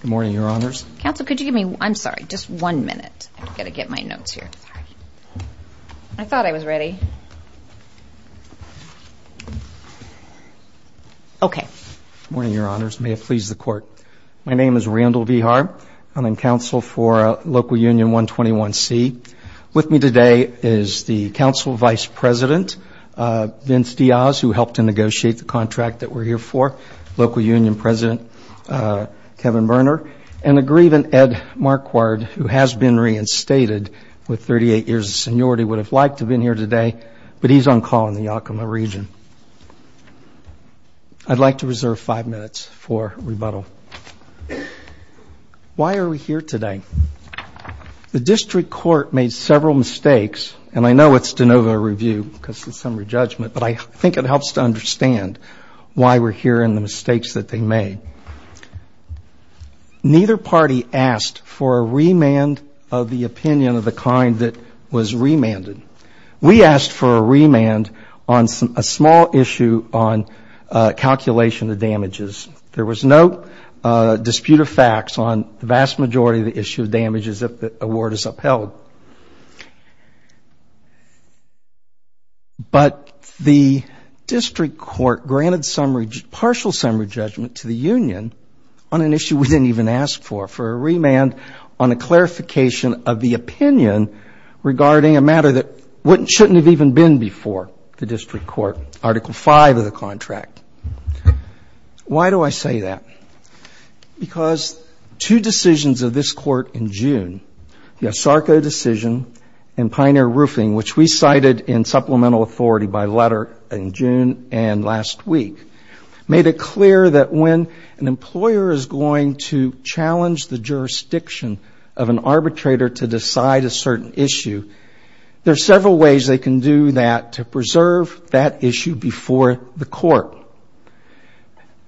Good morning, Your Honors. Council, could you give me, I'm sorry, just one minute. I've got to get my notes here. I thought I was ready. Okay. Good morning, Your Honors. May it please the Court. My name is Randall Vehar. I'm on counsel for Local Union 121C. With me today is the council vice president, Vince Diaz, who helped to negotiate the contract that we're here for. Local Union president, Kevin Berner. And a grievant, Ed Marquardt, who has been reinstated with 38 years of seniority, would have liked to have been here today, but he's on call in the Yakima region. I'd like to reserve five minutes for rebuttal. Why are we here today? The district court made several mistakes, and I know it's de novo review because it's summary judgment, but I think it helps to understand why we're here and the mistakes that they made. Neither party asked for a remand of the opinion of the kind that was remanded. We asked for a remand on a small issue on calculation of damages. There was no dispute of facts on the vast majority of the issue of damages if the award is upheld. But the district court granted partial summary judgment to the union on an issue we didn't even ask for, for a remand on a clarification of the opinion regarding a matter that shouldn't have even been before the district court, Article V of the contract. Why do I say that? Because two decisions of this court in June, the Asarco decision and Pioneer Roofing, which we cited in supplemental authority by letter in June and last week, made it clear that when an employer is going to challenge the jurisdiction of an arbitrator to decide a certain issue, there are several ways they can do that to preserve that issue before the court.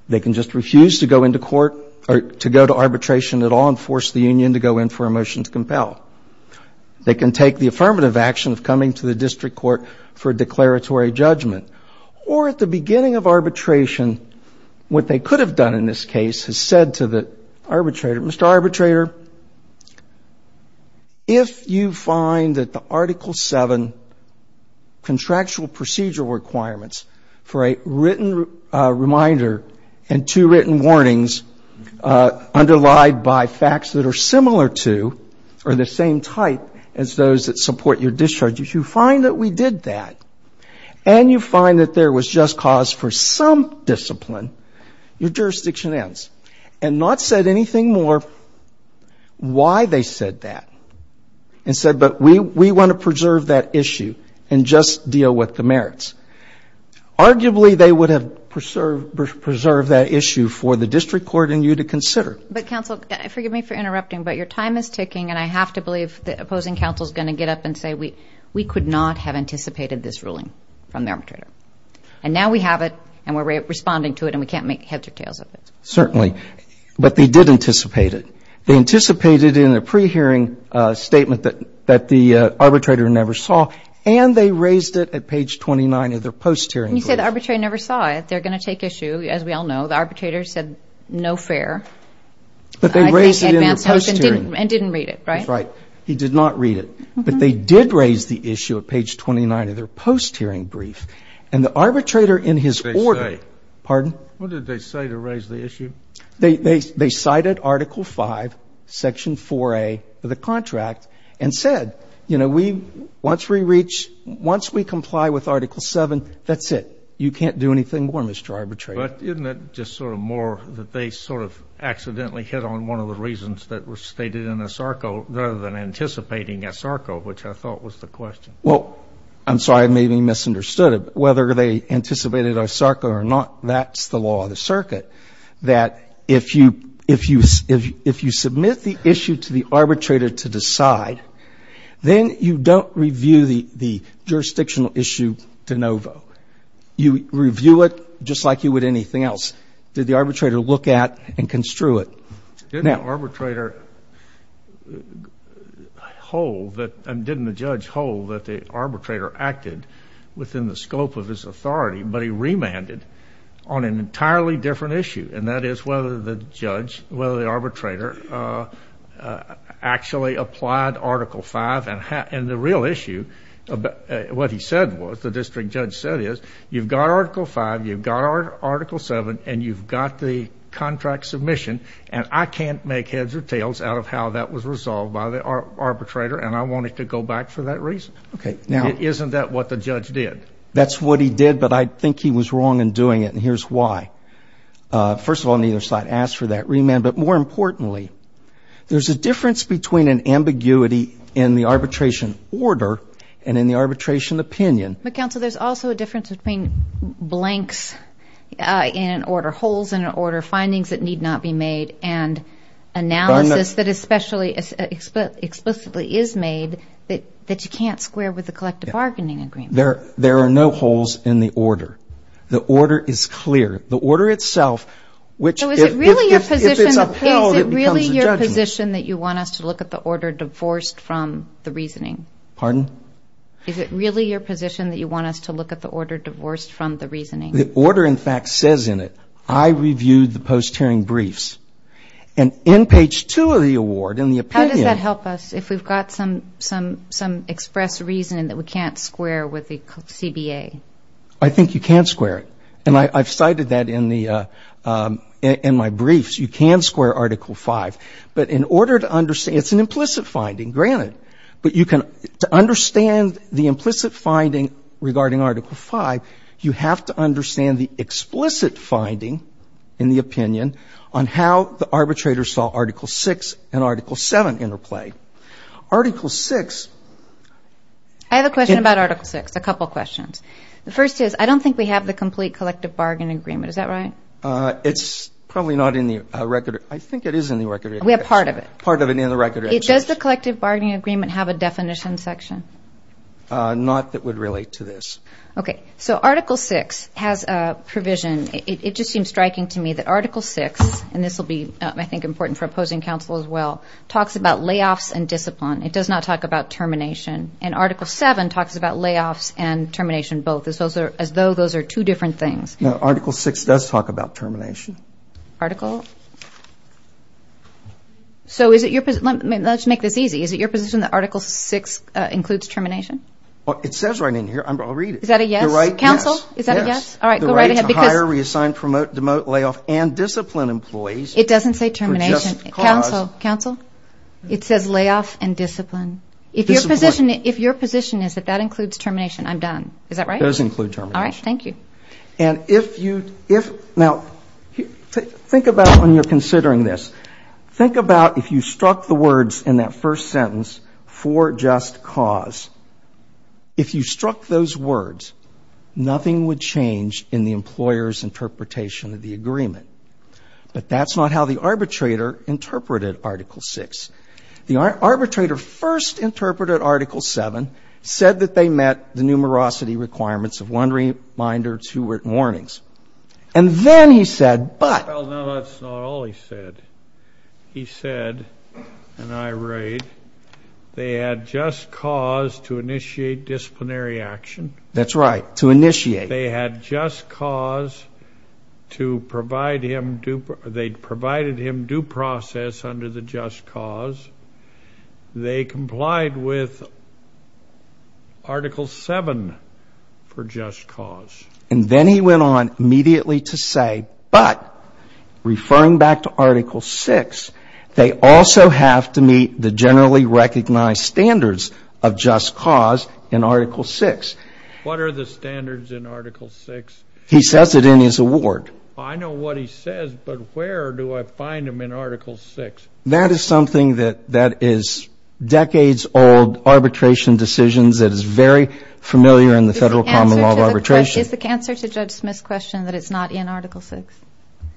They can just refuse to go to arbitration at all and force the union to go in for a motion to compel. They can take the affirmative action of coming to the district court for a declaratory judgment. Or at the beginning of arbitration, what they could have done in this case is said to the arbitrator, Mr. Arbitrator, if you find that the Article VII contractual procedural requirements for a written reminder and two written warnings underlied by facts that are similar to, or the same type as those that support your discharge, if you find that we did that, and you find that there was just cause for some discipline, your jurisdiction ends. And not said anything more why they said that and said, but we want to preserve that issue and just deal with the merits. Arguably, they would have preserved that issue for the district court and you to consider. But, counsel, forgive me for interrupting, but your time is ticking, and I have to believe the opposing counsel is going to get up and say, we could not have anticipated this ruling from the arbitrator. And now we have it, and we're responding to it, and we can't make heads or tails of it. Certainly. But they did anticipate it. They anticipated it in a pre-hearing statement that the arbitrator never saw, and they raised it at page 29 of their post-hearing brief. You said the arbitrator never saw it. They're going to take issue. As we all know, the arbitrator said, no fair. But they raised it in their post-hearing. And didn't read it, right? That's right. He did not read it. But they did raise the issue at page 29 of their post-hearing brief. And the arbitrator in his order. What did they say? Pardon? They cited Article V, Section 4A of the contract and said, you know, once we reach, once we comply with Article VII, that's it. You can't do anything more, Mr. Arbitrator. But isn't it just sort of more that they sort of accidentally hit on one of the reasons that were stated in ASARCO rather than anticipating ASARCO, which I thought was the question? Well, I'm sorry. I may have misunderstood it. Whether they anticipated ASARCO or not, that's the law of the circuit, that if you submit the issue to the arbitrator to decide, then you don't review the jurisdictional issue de novo. You review it just like you would anything else. Did the arbitrator look at and construe it? Didn't the arbitrator hold, and didn't the judge hold that the arbitrator acted within the scope of his authority, but he remanded on an entirely different issue, and that is whether the judge, whether the arbitrator actually applied Article V? And the real issue, what he said was, the district judge said is, you've got Article V, you've got Article VII, and you've got the contract submission, and I can't make heads or tails out of how that was resolved by the arbitrator, and I want it to go back for that reason. Okay. Isn't that what the judge did? That's what he did, but I think he was wrong in doing it, and here's why. First of all, neither side asked for that remand. But more importantly, there's a difference between an ambiguity in the arbitration order and in the arbitration opinion. But, counsel, there's also a difference between blanks in an order, holes in an order, findings that need not be made, and analysis that especially explicitly is made that you can't square with the collective bargaining agreement. There are no holes in the order. The order is clear. The order itself, which if it's upheld, it becomes a judgment. So is it really your position that you want us to look at the order divorced from the reasoning? Pardon? Is it really your position that you want us to look at the order divorced from the reasoning? The order, in fact, says in it, I reviewed the post-hearing briefs. And in page two of the award, in the opinion. How does that help us if we've got some expressed reasoning that we can't square with the CBA? I think you can square it. And I've cited that in my briefs. You can square Article V. But in order to understand, it's an implicit finding, granted. But you can, to understand the implicit finding regarding Article V, you have to understand the explicit finding in the opinion on how the arbitrator saw Article VI and Article VII interplay. Article VI. I have a question about Article VI. A couple questions. The first is, I don't think we have the complete collective bargaining agreement. Is that right? It's probably not in the record. I think it is in the record. We have part of it. Part of it in the record. Does the collective bargaining agreement have a definition section? Not that would relate to this. Okay. So Article VI has a provision. It just seems striking to me that Article VI, and this will be, I think, important for opposing counsel as well, talks about layoffs and discipline. It does not talk about termination. And Article VII talks about layoffs and termination both, as though those are two different things. No, Article VI does talk about termination. Article? So is it your position? Let's make this easy. Is it your position that Article VI includes termination? It says right in here. I'll read it. Is that a yes? Counsel? Is that a yes? Yes. All right. Go right ahead. The right to hire, reassign, promote, demote, layoff, and discipline employees. It doesn't say termination. Counsel? Counsel? It says layoff and discipline. Discipline. If your position is that that includes termination, I'm done. Is that right? It does include termination. All right. Thank you. And if you, now, think about when you're considering this. Think about if you struck the words in that first sentence, for just cause. If you struck those words, nothing would change in the employer's interpretation of the agreement. But that's not how the arbitrator interpreted Article VI. The arbitrator first interpreted Article VII, said that they met the numerosity requirements of one reminder, two warnings. And then he said, but. Well, no, that's not all he said. He said, and I read, they had just cause to initiate disciplinary action. That's right. To initiate. They had just cause to provide him, they provided him due process under the just cause. They complied with Article VII for just cause. And then he went on immediately to say, but, referring back to Article VI, they also have to meet the generally recognized standards of just cause in Article VI. What are the standards in Article VI? He says it in his award. I know what he says, but where do I find them in Article VI? That is something that is decades old arbitration decisions that is very familiar in the federal common law of arbitration. Is the answer to Judge Smith's question that it's not in Article VI?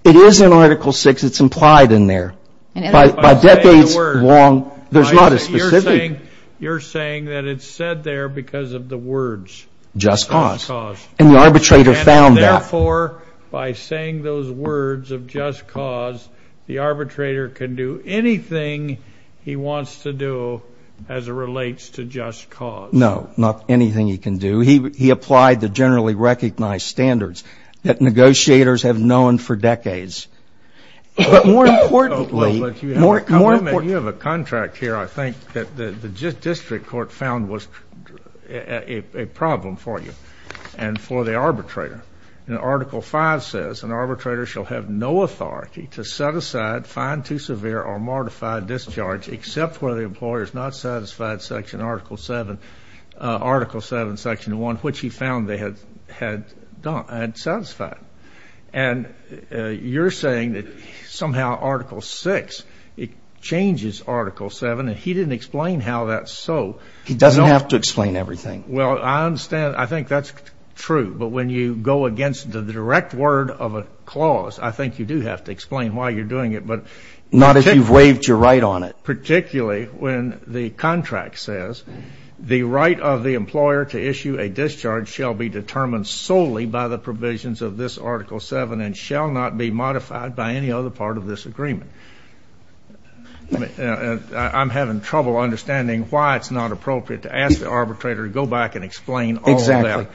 It is in Article VI. It's implied in there. By decades long, there's not a specific. You're saying that it's said there because of the words. Just cause. Just cause. And the arbitrator found that. And, therefore, by saying those words of just cause, the arbitrator can do anything he wants to do as it relates to just cause. No, not anything he can do. He applied the generally recognized standards that negotiators have known for decades. But, more importantly. You have a contract here, I think, that the district court found was a problem for you and for the arbitrator. And Article V says an arbitrator shall have no authority to set aside, find too severe or mortified discharge except where the employer is not satisfied, Article VII, Section 1, which he found they had satisfied. And you're saying that somehow Article VI changes Article VII. And he didn't explain how that's so. He doesn't have to explain everything. Well, I understand. I think that's true. But when you go against the direct word of a clause, I think you do have to explain why you're doing it. Not if you've waived your right on it. Particularly when the contract says, the right of the employer to issue a discharge shall be determined solely by the provisions of this Article VII and shall not be modified by any other part of this agreement. I'm having trouble understanding why it's not appropriate to ask the arbitrator to go back and explain all of that. Exactly.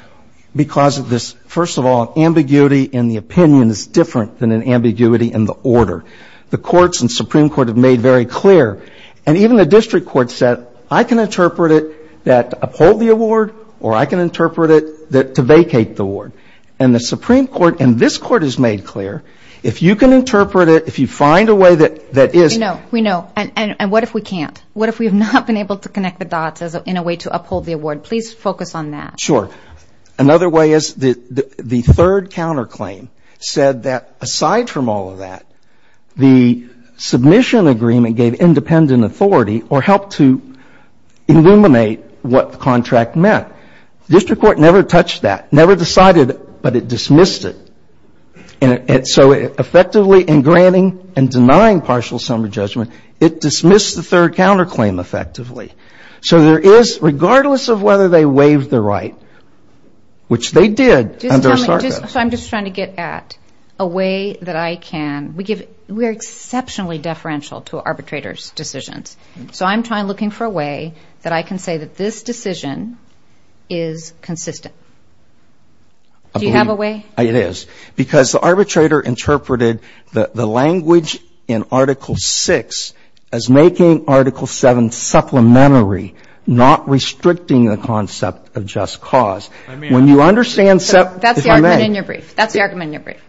Because of this, first of all, ambiguity in the opinion is different than an ambiguity in the order. The courts and Supreme Court have made very clear, and even the district court said, I can interpret it that uphold the award, or I can interpret it to vacate the award. And the Supreme Court and this Court has made clear, if you can interpret it, if you find a way that is. We know. And what if we can't? What if we have not been able to connect the dots in a way to uphold the award? Please focus on that. Sure. Another way is the third counterclaim said that aside from all of that, the submission agreement gave independent authority or helped to illuminate what the contract meant. The district court never touched that, never decided, but it dismissed it. And so effectively in granting and denying partial summary judgment, it dismissed the third counterclaim effectively. So there is, regardless of whether they waived the right, which they did under SARPA. So I'm just trying to get at a way that I can. We are exceptionally deferential to arbitrators' decisions. So I'm trying, looking for a way that I can say that this decision is consistent. Do you have a way? It is. Because the arbitrator interpreted the language in Article VI as making Article VII supplementary, not restricting the concept of just cause. I mean. When you understand. That's the argument in your brief. If I may. That's the argument in your brief.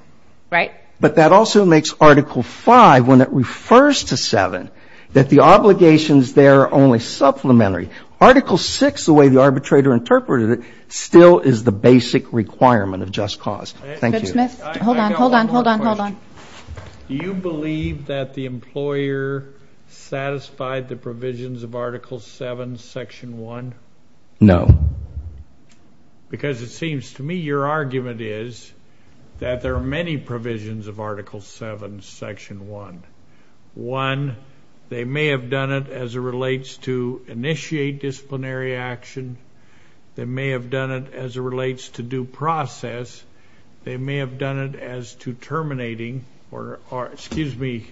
Right? But that also makes Article V, when it refers to VII, that the obligations there are only supplementary. Article VI, the way the arbitrator interpreted it, still is the basic requirement of just cause. Thank you. Hold on. Hold on. Hold on. Hold on. Do you believe that the employer satisfied the provisions of Article VII, Section I? No. Because it seems to me your argument is that there are many provisions of Article VII, Section I. One, they may have done it as it relates to initiate disciplinary action. They may have done it as it relates to due process. They may have done it as to terminating or, excuse me,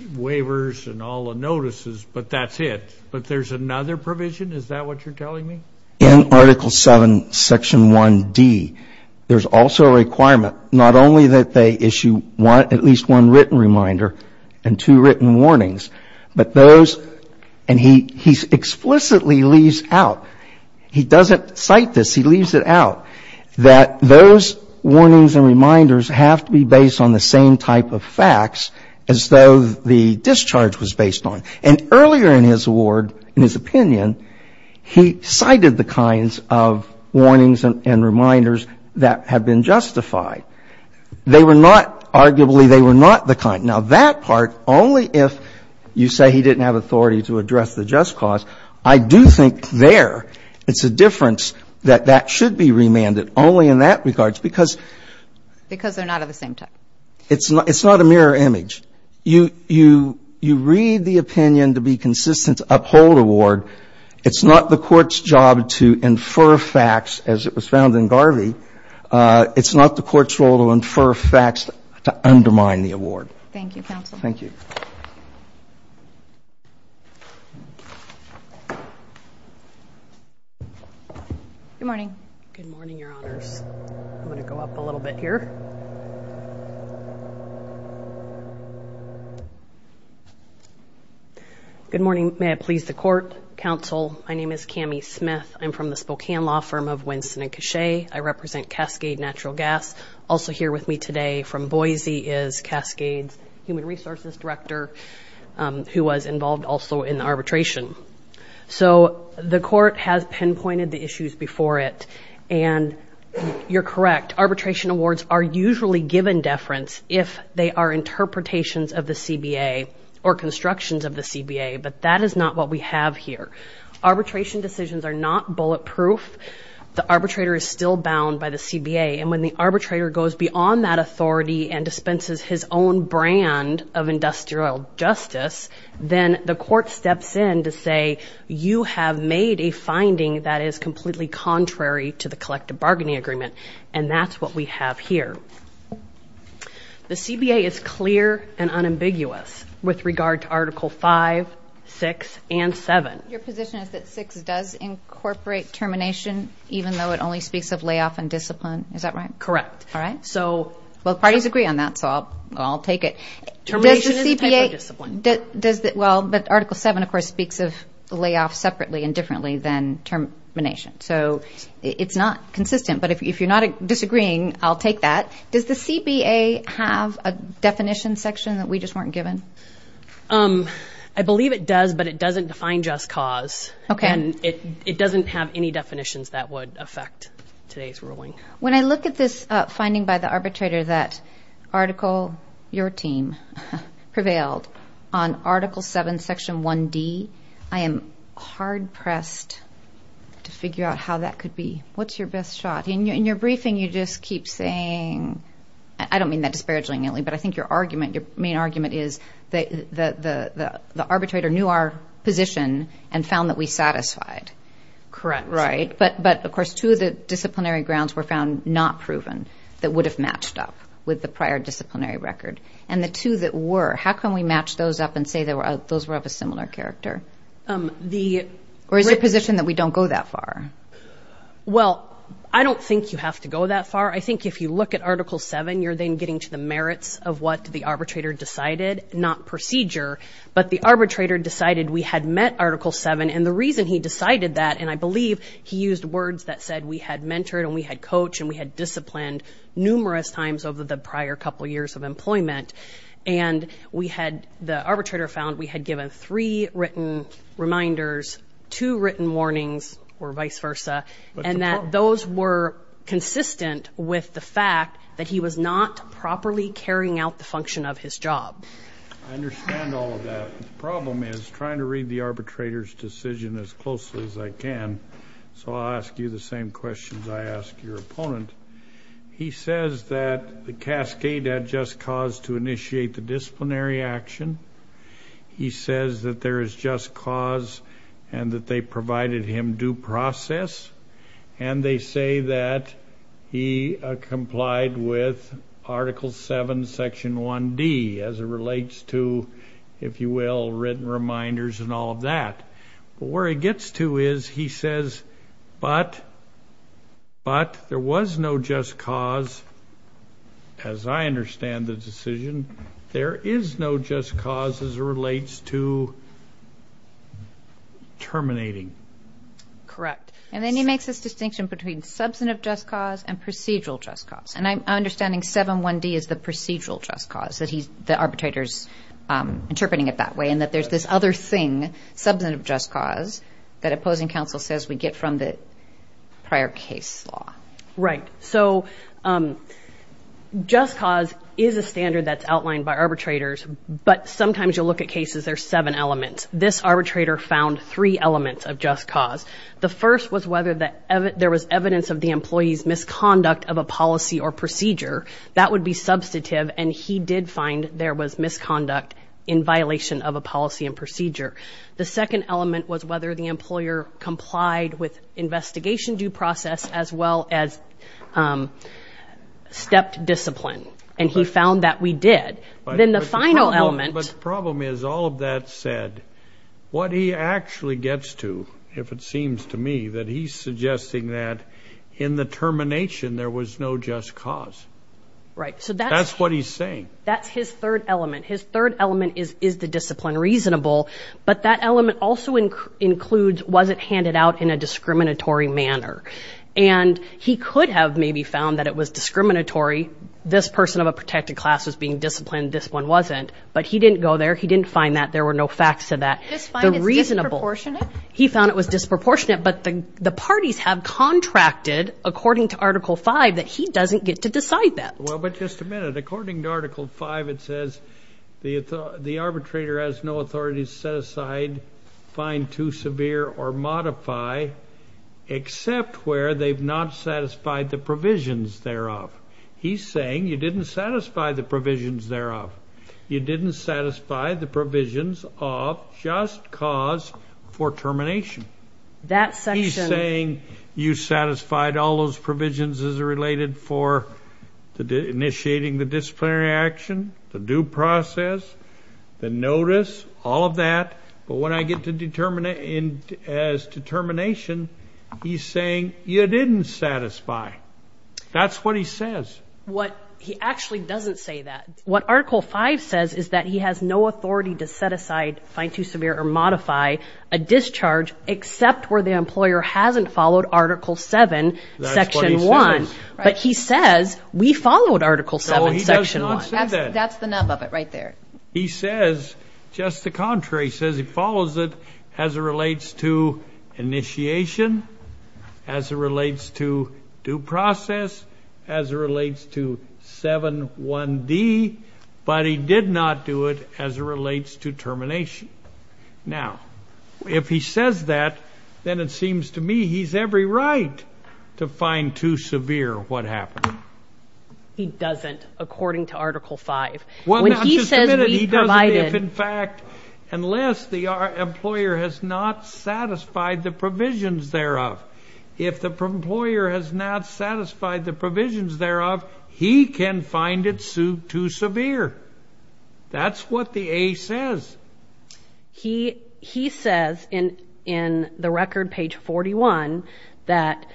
waivers and all the notices, but that's it. But there's another provision? Is that what you're telling me? In Article VII, Section I.D., there's also a requirement, not only that they issue at least one written reminder and two written warnings, but those, and he explicitly leaves out, he doesn't cite this, he leaves it out, that those warnings and reminders have to be based on the same type of facts as though the discharge was based on. And earlier in his award, in his opinion, he cited the kinds of warnings and reminders that have been justified. They were not, arguably, they were not the kind. Now, that part, only if you say he didn't have authority to address the just cause. I do think there it's a difference that that should be remanded, only in that regards, because. Because they're not of the same type. It's not a mirror image. You read the opinion to be consistent to uphold award. It's not the Court's job to infer facts, as it was found in Garvey. It's not the Court's role to infer facts to undermine the award. Thank you, Counsel. Thank you. Good morning. Good morning, Your Honors. I'm going to go up a little bit here. Good morning. May I please the Court. Counsel, my name is Cammie Smith. I'm from the Spokane law firm of Winston and Cachet. I represent Cascade Natural Gas. Also here with me today from Boise is Cascade's Human Resources Director, who was involved also in the arbitration. So the Court has pinpointed the issues before it. And you're correct, arbitration awards are usually given deference, if they are interpretations of the CBA or constructions of the CBA. But that is not what we have here. Arbitration decisions are not bulletproof. The arbitrator is still bound by the CBA. And when the arbitrator goes beyond that authority and dispenses his own brand of industrial justice, then the Court steps in to say, you have made a finding that is completely contrary to the collective bargaining agreement. And that's what we have here. The CBA is clear and unambiguous with regard to Article V, VI, and VII. Your position is that VI does incorporate termination, even though it only speaks of layoff and discipline. Is that right? Correct. All right. Both parties agree on that, so I'll take it. Termination is a type of discipline. Well, but Article VII, of course, speaks of layoff separately and differently than termination. So it's not consistent. But if you're not disagreeing, I'll take that. Does the CBA have a definition section that we just weren't given? I believe it does, but it doesn't define just cause. It doesn't have any definitions that would affect today's ruling. When I look at this finding by the arbitrator that Article, your team, prevailed on Article VII, Section 1D, I am hard-pressed to figure out how that could be. What's your best shot? In your briefing, you just keep saying, I don't mean that disparagingly, but I think your argument, your main argument is that the arbitrator knew our position and found that we satisfied. Correct. Right. But, of course, two of the disciplinary grounds were found not proven that would have matched up with the prior disciplinary record. And the two that were, how can we match those up and say those were of a similar character? Or is it a position that we don't go that far? Well, I don't think you have to go that far. I think if you look at Article VII, you're then getting to the merits of what the arbitrator decided, not procedure. But the arbitrator decided we had met Article VII, and the reason he decided that, and I believe he used words that said we had mentored and we had coached and we had disciplined numerous times over the prior couple years of employment, and we had, the arbitrator found we had given three written reminders, two written warnings, or vice versa, and that those were consistent with the fact that he was not properly carrying out the function of his job. I understand all of that. The problem is trying to read the arbitrator's decision as closely as I can, so I'll ask you the same questions I ask your opponent. He says that the cascade had just cause to initiate the disciplinary action. He says that there is just cause and that they provided him due process. And they say that he complied with Article VII, Section 1D, as it relates to, if you will, written reminders and all of that. But where he gets to is he says, but there was no just cause. As I understand the decision, there is no just cause as it relates to terminating. Correct. And then he makes this distinction between substantive just cause and procedural just cause. And I'm understanding 7.1.D is the procedural just cause, that the arbitrator's interpreting it that way, and that there's this other thing, substantive just cause, that opposing counsel says we get from the prior case law. Right. So just cause is a standard that's outlined by arbitrators, but sometimes you'll look at cases, there's seven elements. This arbitrator found three elements of just cause. The first was whether there was evidence of the employee's misconduct of a policy or procedure. That would be substantive, and he did find there was misconduct in violation of a policy and procedure. The second element was whether the employer complied with investigation due process as well as stepped discipline. And he found that we did. Then the final element. But the problem is all of that said, what he actually gets to, if it seems to me, that he's suggesting that in the termination there was no just cause. Right. That's what he's saying. That's his third element. His third element is is the discipline reasonable, but that element also includes was it handed out in a discriminatory manner. And he could have maybe found that it was discriminatory, this person of a protected class was being disciplined, this one wasn't. But he didn't go there. He didn't find that. There were no facts to that. He found it was disproportionate, but the parties have contracted, according to Article V, that he doesn't get to decide that. Well, but just a minute. According to Article V, it says the arbitrator has no authority to set aside, find too severe, or modify except where they've not satisfied the provisions thereof. He's saying you didn't satisfy the provisions thereof. You didn't satisfy the provisions of just cause for termination. That section. He's saying you satisfied all those provisions as related for initiating the disciplinary action, the due process, the notice, all of that. But when I get to determination, he's saying you didn't satisfy. That's what he says. He actually doesn't say that. What Article V says is that he has no authority to set aside, find too severe, or modify a discharge except where the employer hasn't followed Article VII, Section 1. That's what he says. But he says we followed Article VII, Section 1. No, he does not say that. That's the nub of it right there. He says just the contrary. He says he follows it as it relates to initiation, as it relates to due process, as it relates to VII-1D, but he did not do it as it relates to termination. Now, if he says that, then it seems to me he's every right to find too severe what happened. He doesn't, according to Article V. Well, not just a minute. He doesn't if, in fact, unless the employer has not satisfied the provisions thereof. If the employer has not satisfied the provisions thereof, he can find it too severe. That's what the A says. He says in the record, page 41, that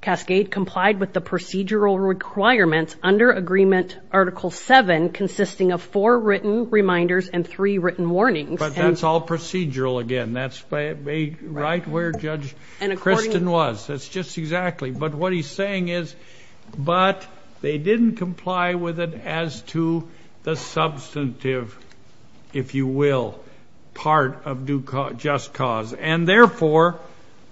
Cascade complied with the procedural requirements under Agreement Article VII consisting of four written reminders and three written warnings. But that's all procedural again. That's right where Judge Kristen was. That's just exactly. But what he's saying is, but they didn't comply with it as to the substantive, if you will, part of just cause. And, therefore,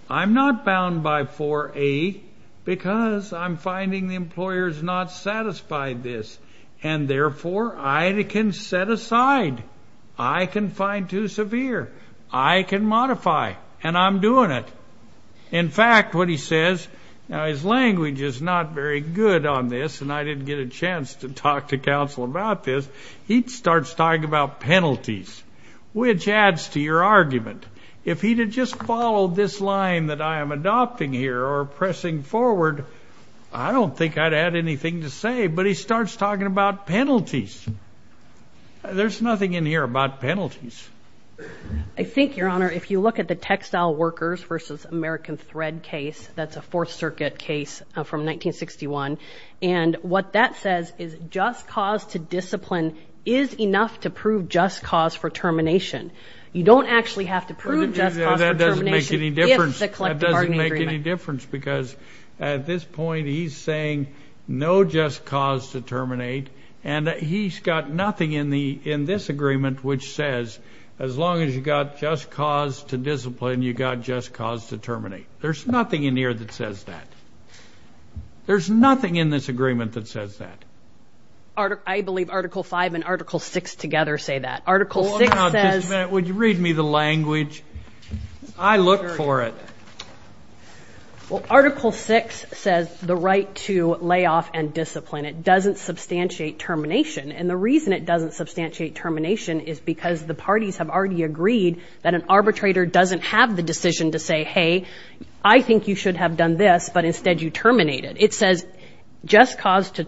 I'm not bound by IV-A because I'm finding the employer's not satisfied this. And, therefore, I can set aside. I can find too severe. I can modify, and I'm doing it. In fact, what he says, now his language is not very good on this, and I didn't get a chance to talk to counsel about this. He starts talking about penalties, which adds to your argument. If he had just followed this line that I am adopting here or pressing forward, I don't think I'd have anything to say. But he starts talking about penalties. There's nothing in here about penalties. I think, Your Honor, if you look at the textile workers versus American Thread case, that's a Fourth Circuit case from 1961, and what that says is just cause to discipline is enough to prove just cause for termination. You don't actually have to prove just cause for termination if the collective bargaining agreement. That doesn't make any difference because at this point he's saying no just cause to terminate, and he's got nothing in this agreement which says as long as you've got just cause to discipline, you've got just cause to terminate. There's nothing in here that says that. There's nothing in this agreement that says that. I believe Article V and Article VI together say that. Article VI says the right to layoff and discipline. It doesn't substantiate termination, and the reason it doesn't substantiate termination is because the parties have already agreed that an arbitrator doesn't have the decision to say, hey, I think you should have done this, but instead you terminate it. It says just cause to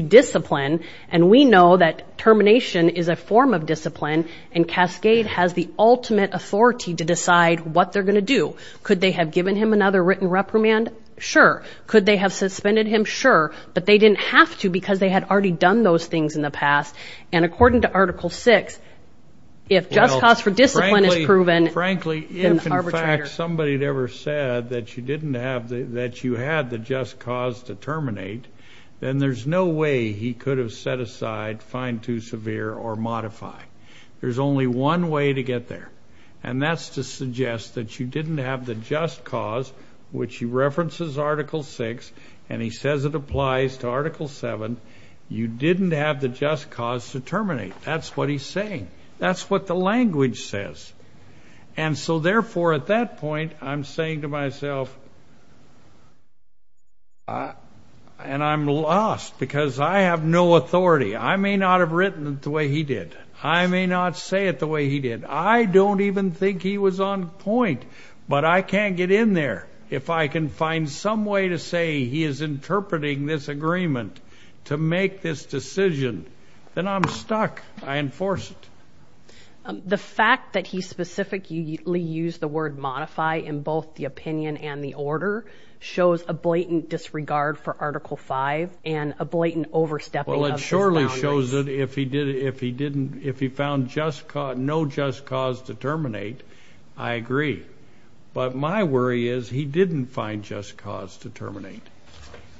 discipline, and we know that termination is a form of discipline, and Cascade has the ultimate authority to decide what they're going to do. Could they have given him another written reprimand? Sure. Could they have suspended him? Sure. But they didn't have to because they had already done those things in the past, and according to Article VI, if just cause for discipline is proven, then the arbitrator. If somebody had ever said that you had the just cause to terminate, then there's no way he could have set aside fine to severe or modify. There's only one way to get there, and that's to suggest that you didn't have the just cause, which he references Article VI, and he says it applies to Article VII. You didn't have the just cause to terminate. That's what he's saying. That's what the language says. And so, therefore, at that point, I'm saying to myself, and I'm lost because I have no authority. I may not have written it the way he did. I may not say it the way he did. I don't even think he was on point, but I can't get in there. If I can find some way to say he is interpreting this agreement to make this decision, then I'm stuck. I enforce it. The fact that he specifically used the word modify in both the opinion and the order shows a blatant disregard for Article V and a blatant overstepping of his boundaries. Well, it surely shows that if he found no just cause to terminate, I agree. But my worry is he didn't find just cause to terminate.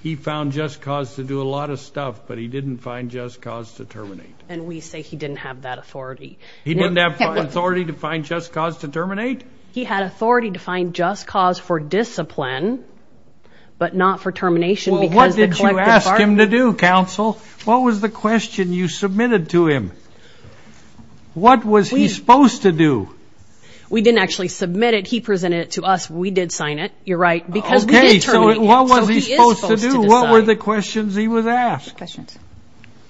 He found just cause to do a lot of stuff, but he didn't find just cause to terminate. And we say he didn't have that authority. He didn't have authority to find just cause to terminate? He had authority to find just cause for discipline, but not for termination. Well, what did you ask him to do, counsel? What was the question you submitted to him? What was he supposed to do? We didn't actually submit it. He presented it to us. We did sign it. You're right, because we did terminate it. Okay, so what was he supposed to do? What were the questions he was asked?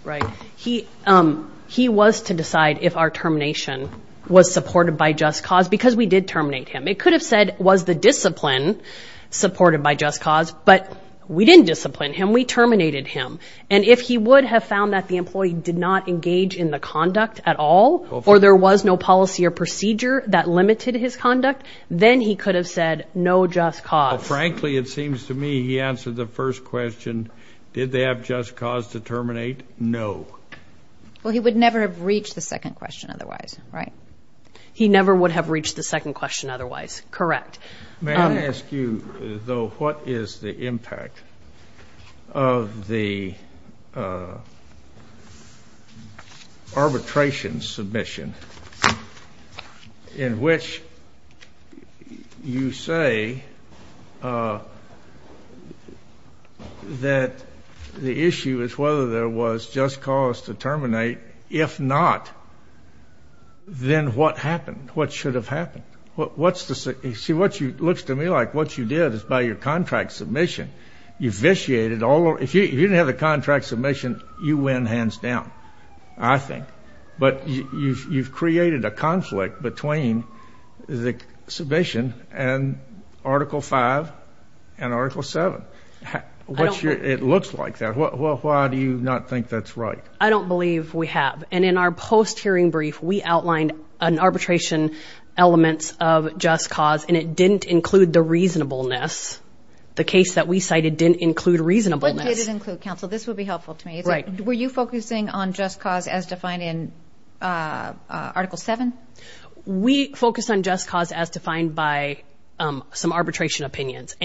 Right. He was to decide if our termination was supported by just cause, because we did terminate him. It could have said was the discipline supported by just cause, but we didn't discipline him. We terminated him. And if he would have found that the employee did not engage in the conduct at all, or there was no policy or procedure that limited his conduct, then he could have said no just cause. Well, frankly, it seems to me he answered the first question, did they have just cause to terminate? No. Well, he would never have reached the second question otherwise, right? He never would have reached the second question otherwise. Correct. May I ask you, though, what is the impact of the arbitration submission in which you say that the issue is whether there was just cause to terminate. If not, then what happened? What should have happened? See, what looks to me like what you did is by your contract submission, you vitiated all over. If you didn't have the contract submission, you win hands down, I think. But you've created a conflict between the submission and Article 5 and Article 7. It looks like that. Why do you not think that's right? I don't believe we have. And in our post-hearing brief, we outlined an arbitration elements of just cause, and it didn't include the reasonableness. The case that we cited didn't include reasonableness. What did it include, counsel? This would be helpful to me. Were you focusing on just cause as defined in Article 7? We focused on just cause as defined by some arbitration opinions.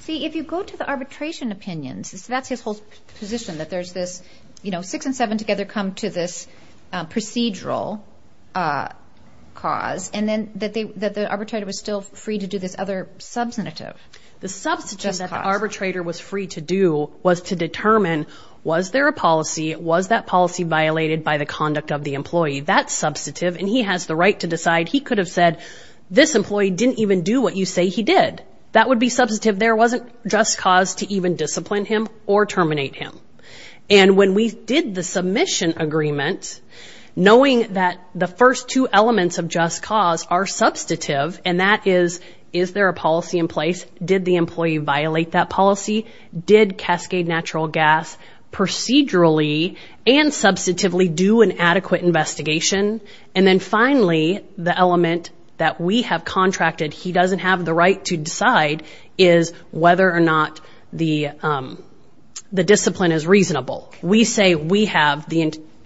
See, if you go to the arbitration opinions, that's his whole position, that there's this, you know, 6 and 7 together come to this procedural cause, and then that the arbitrator was still free to do this other substantive. The substantive that the arbitrator was free to do was to determine, was there a policy? Was that policy violated by the conduct of the employee? That's substantive, and he has the right to decide. He could have said, this employee didn't even do what you say he did. That would be substantive. There wasn't just cause to even discipline him or terminate him. And when we did the submission agreement, knowing that the first two elements of just cause are substantive, and that is, is there a policy in place? Did the employee violate that policy? Did Cascade Natural Gas procedurally and substantively do an adequate investigation? And then finally, the element that we have contracted, he doesn't have the right to decide, is whether or not the discipline is reasonable. We say we have,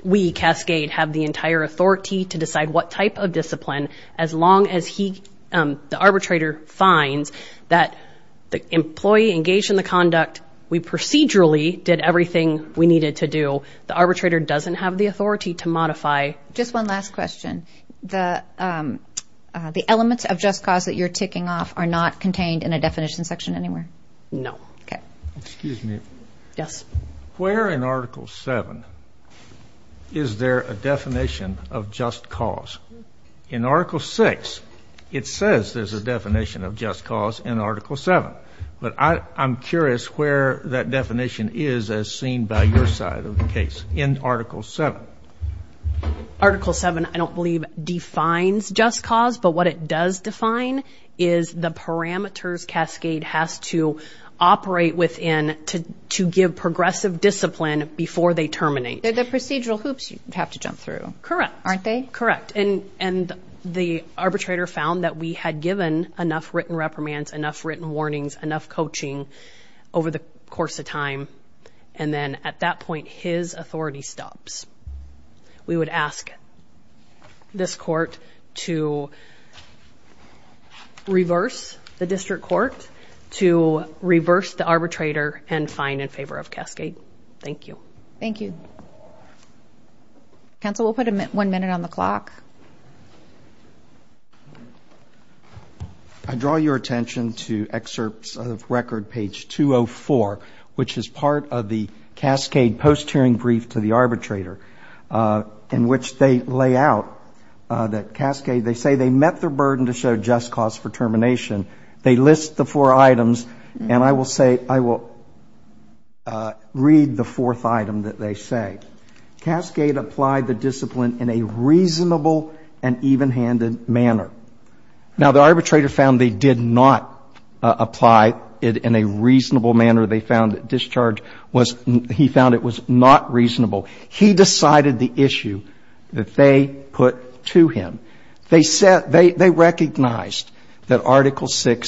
we, Cascade, have the entire authority to decide what type of discipline, as long as he, the arbitrator, finds that the employee engaged in the conduct, we procedurally did everything we needed to do. The arbitrator doesn't have the authority to modify. Just one last question. The elements of just cause that you're ticking off are not contained in a definition section anywhere? No. Okay. Excuse me. Yes. Where in Article VII is there a definition of just cause? In Article VI, it says there's a definition of just cause in Article VII, but I'm curious where that definition is as seen by your side of the case in Article VII. Article VII, I don't believe, defines just cause, but what it does define is the parameters Cascade has to operate within to give progressive discipline before they terminate. They're the procedural hoops you have to jump through. Correct. Aren't they? Correct. And the arbitrator found that we had given enough written reprimands, enough written warnings, enough coaching over the course of time, and then at that point his authority stops. We would ask this court to reverse the district court to reverse the arbitrator and fine in favor of Cascade. Thank you. Thank you. Counsel, we'll put one minute on the clock. I draw your attention to excerpts of record page 204, which is part of the Cascade post-hearing brief to the arbitrator, in which they lay out that Cascade, they say they met their burden to show just cause for termination. They list the four items, and I will read the fourth item that they say. Cascade applied the discipline in a reasonable and even-handed manner. Now, the arbitrator found they did not apply it in a reasonable manner. They found that discharge was he found it was not reasonable. He decided the issue that they put to him. They recognized that Article VI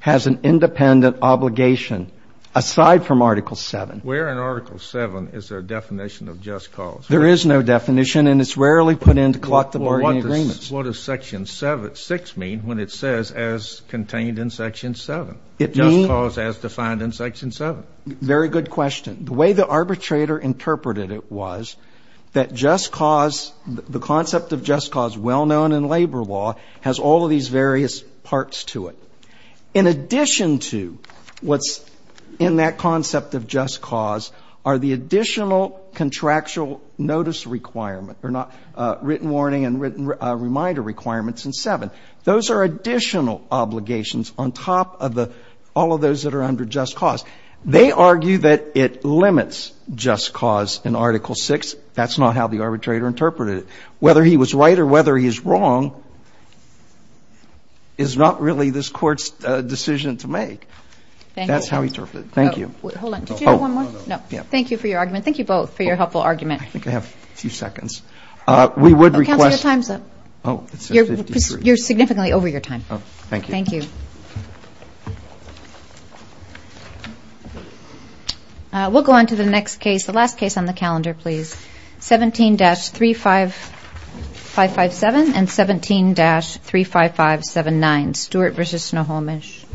has an independent obligation aside from Article VII. Where in Article VII is there a definition of just cause? There is no definition, and it's rarely put in to clock the bargaining agreements. Well, what does Section VI mean when it says as contained in Section VII? It means? Just cause as defined in Section VII. Very good question. The way the arbitrator interpreted it was that just cause, the concept of just cause well known in labor law, has all of these various parts to it. In addition to what's in that concept of just cause are the additional contractual notice requirement, or not, written warning and written reminder requirements in VII. Those are additional obligations on top of all of those that are under just cause. They argue that it limits just cause in Article VI. That's not how the arbitrator interpreted it. The question is whether he was right or whether he was wrong is not really this Court's decision to make. That's how he interpreted it. Thank you. Hold on. Did you have one more? No. Thank you for your argument. Thank you both for your helpful argument. I think I have a few seconds. We would request. Counsel, your time's up. Oh, it's at 53. You're significantly over your time. Thank you. Thank you. We'll go on to the next case, the last case on the calendar, please. 17-3557 and 17-35579, Stewart v. Snohomish.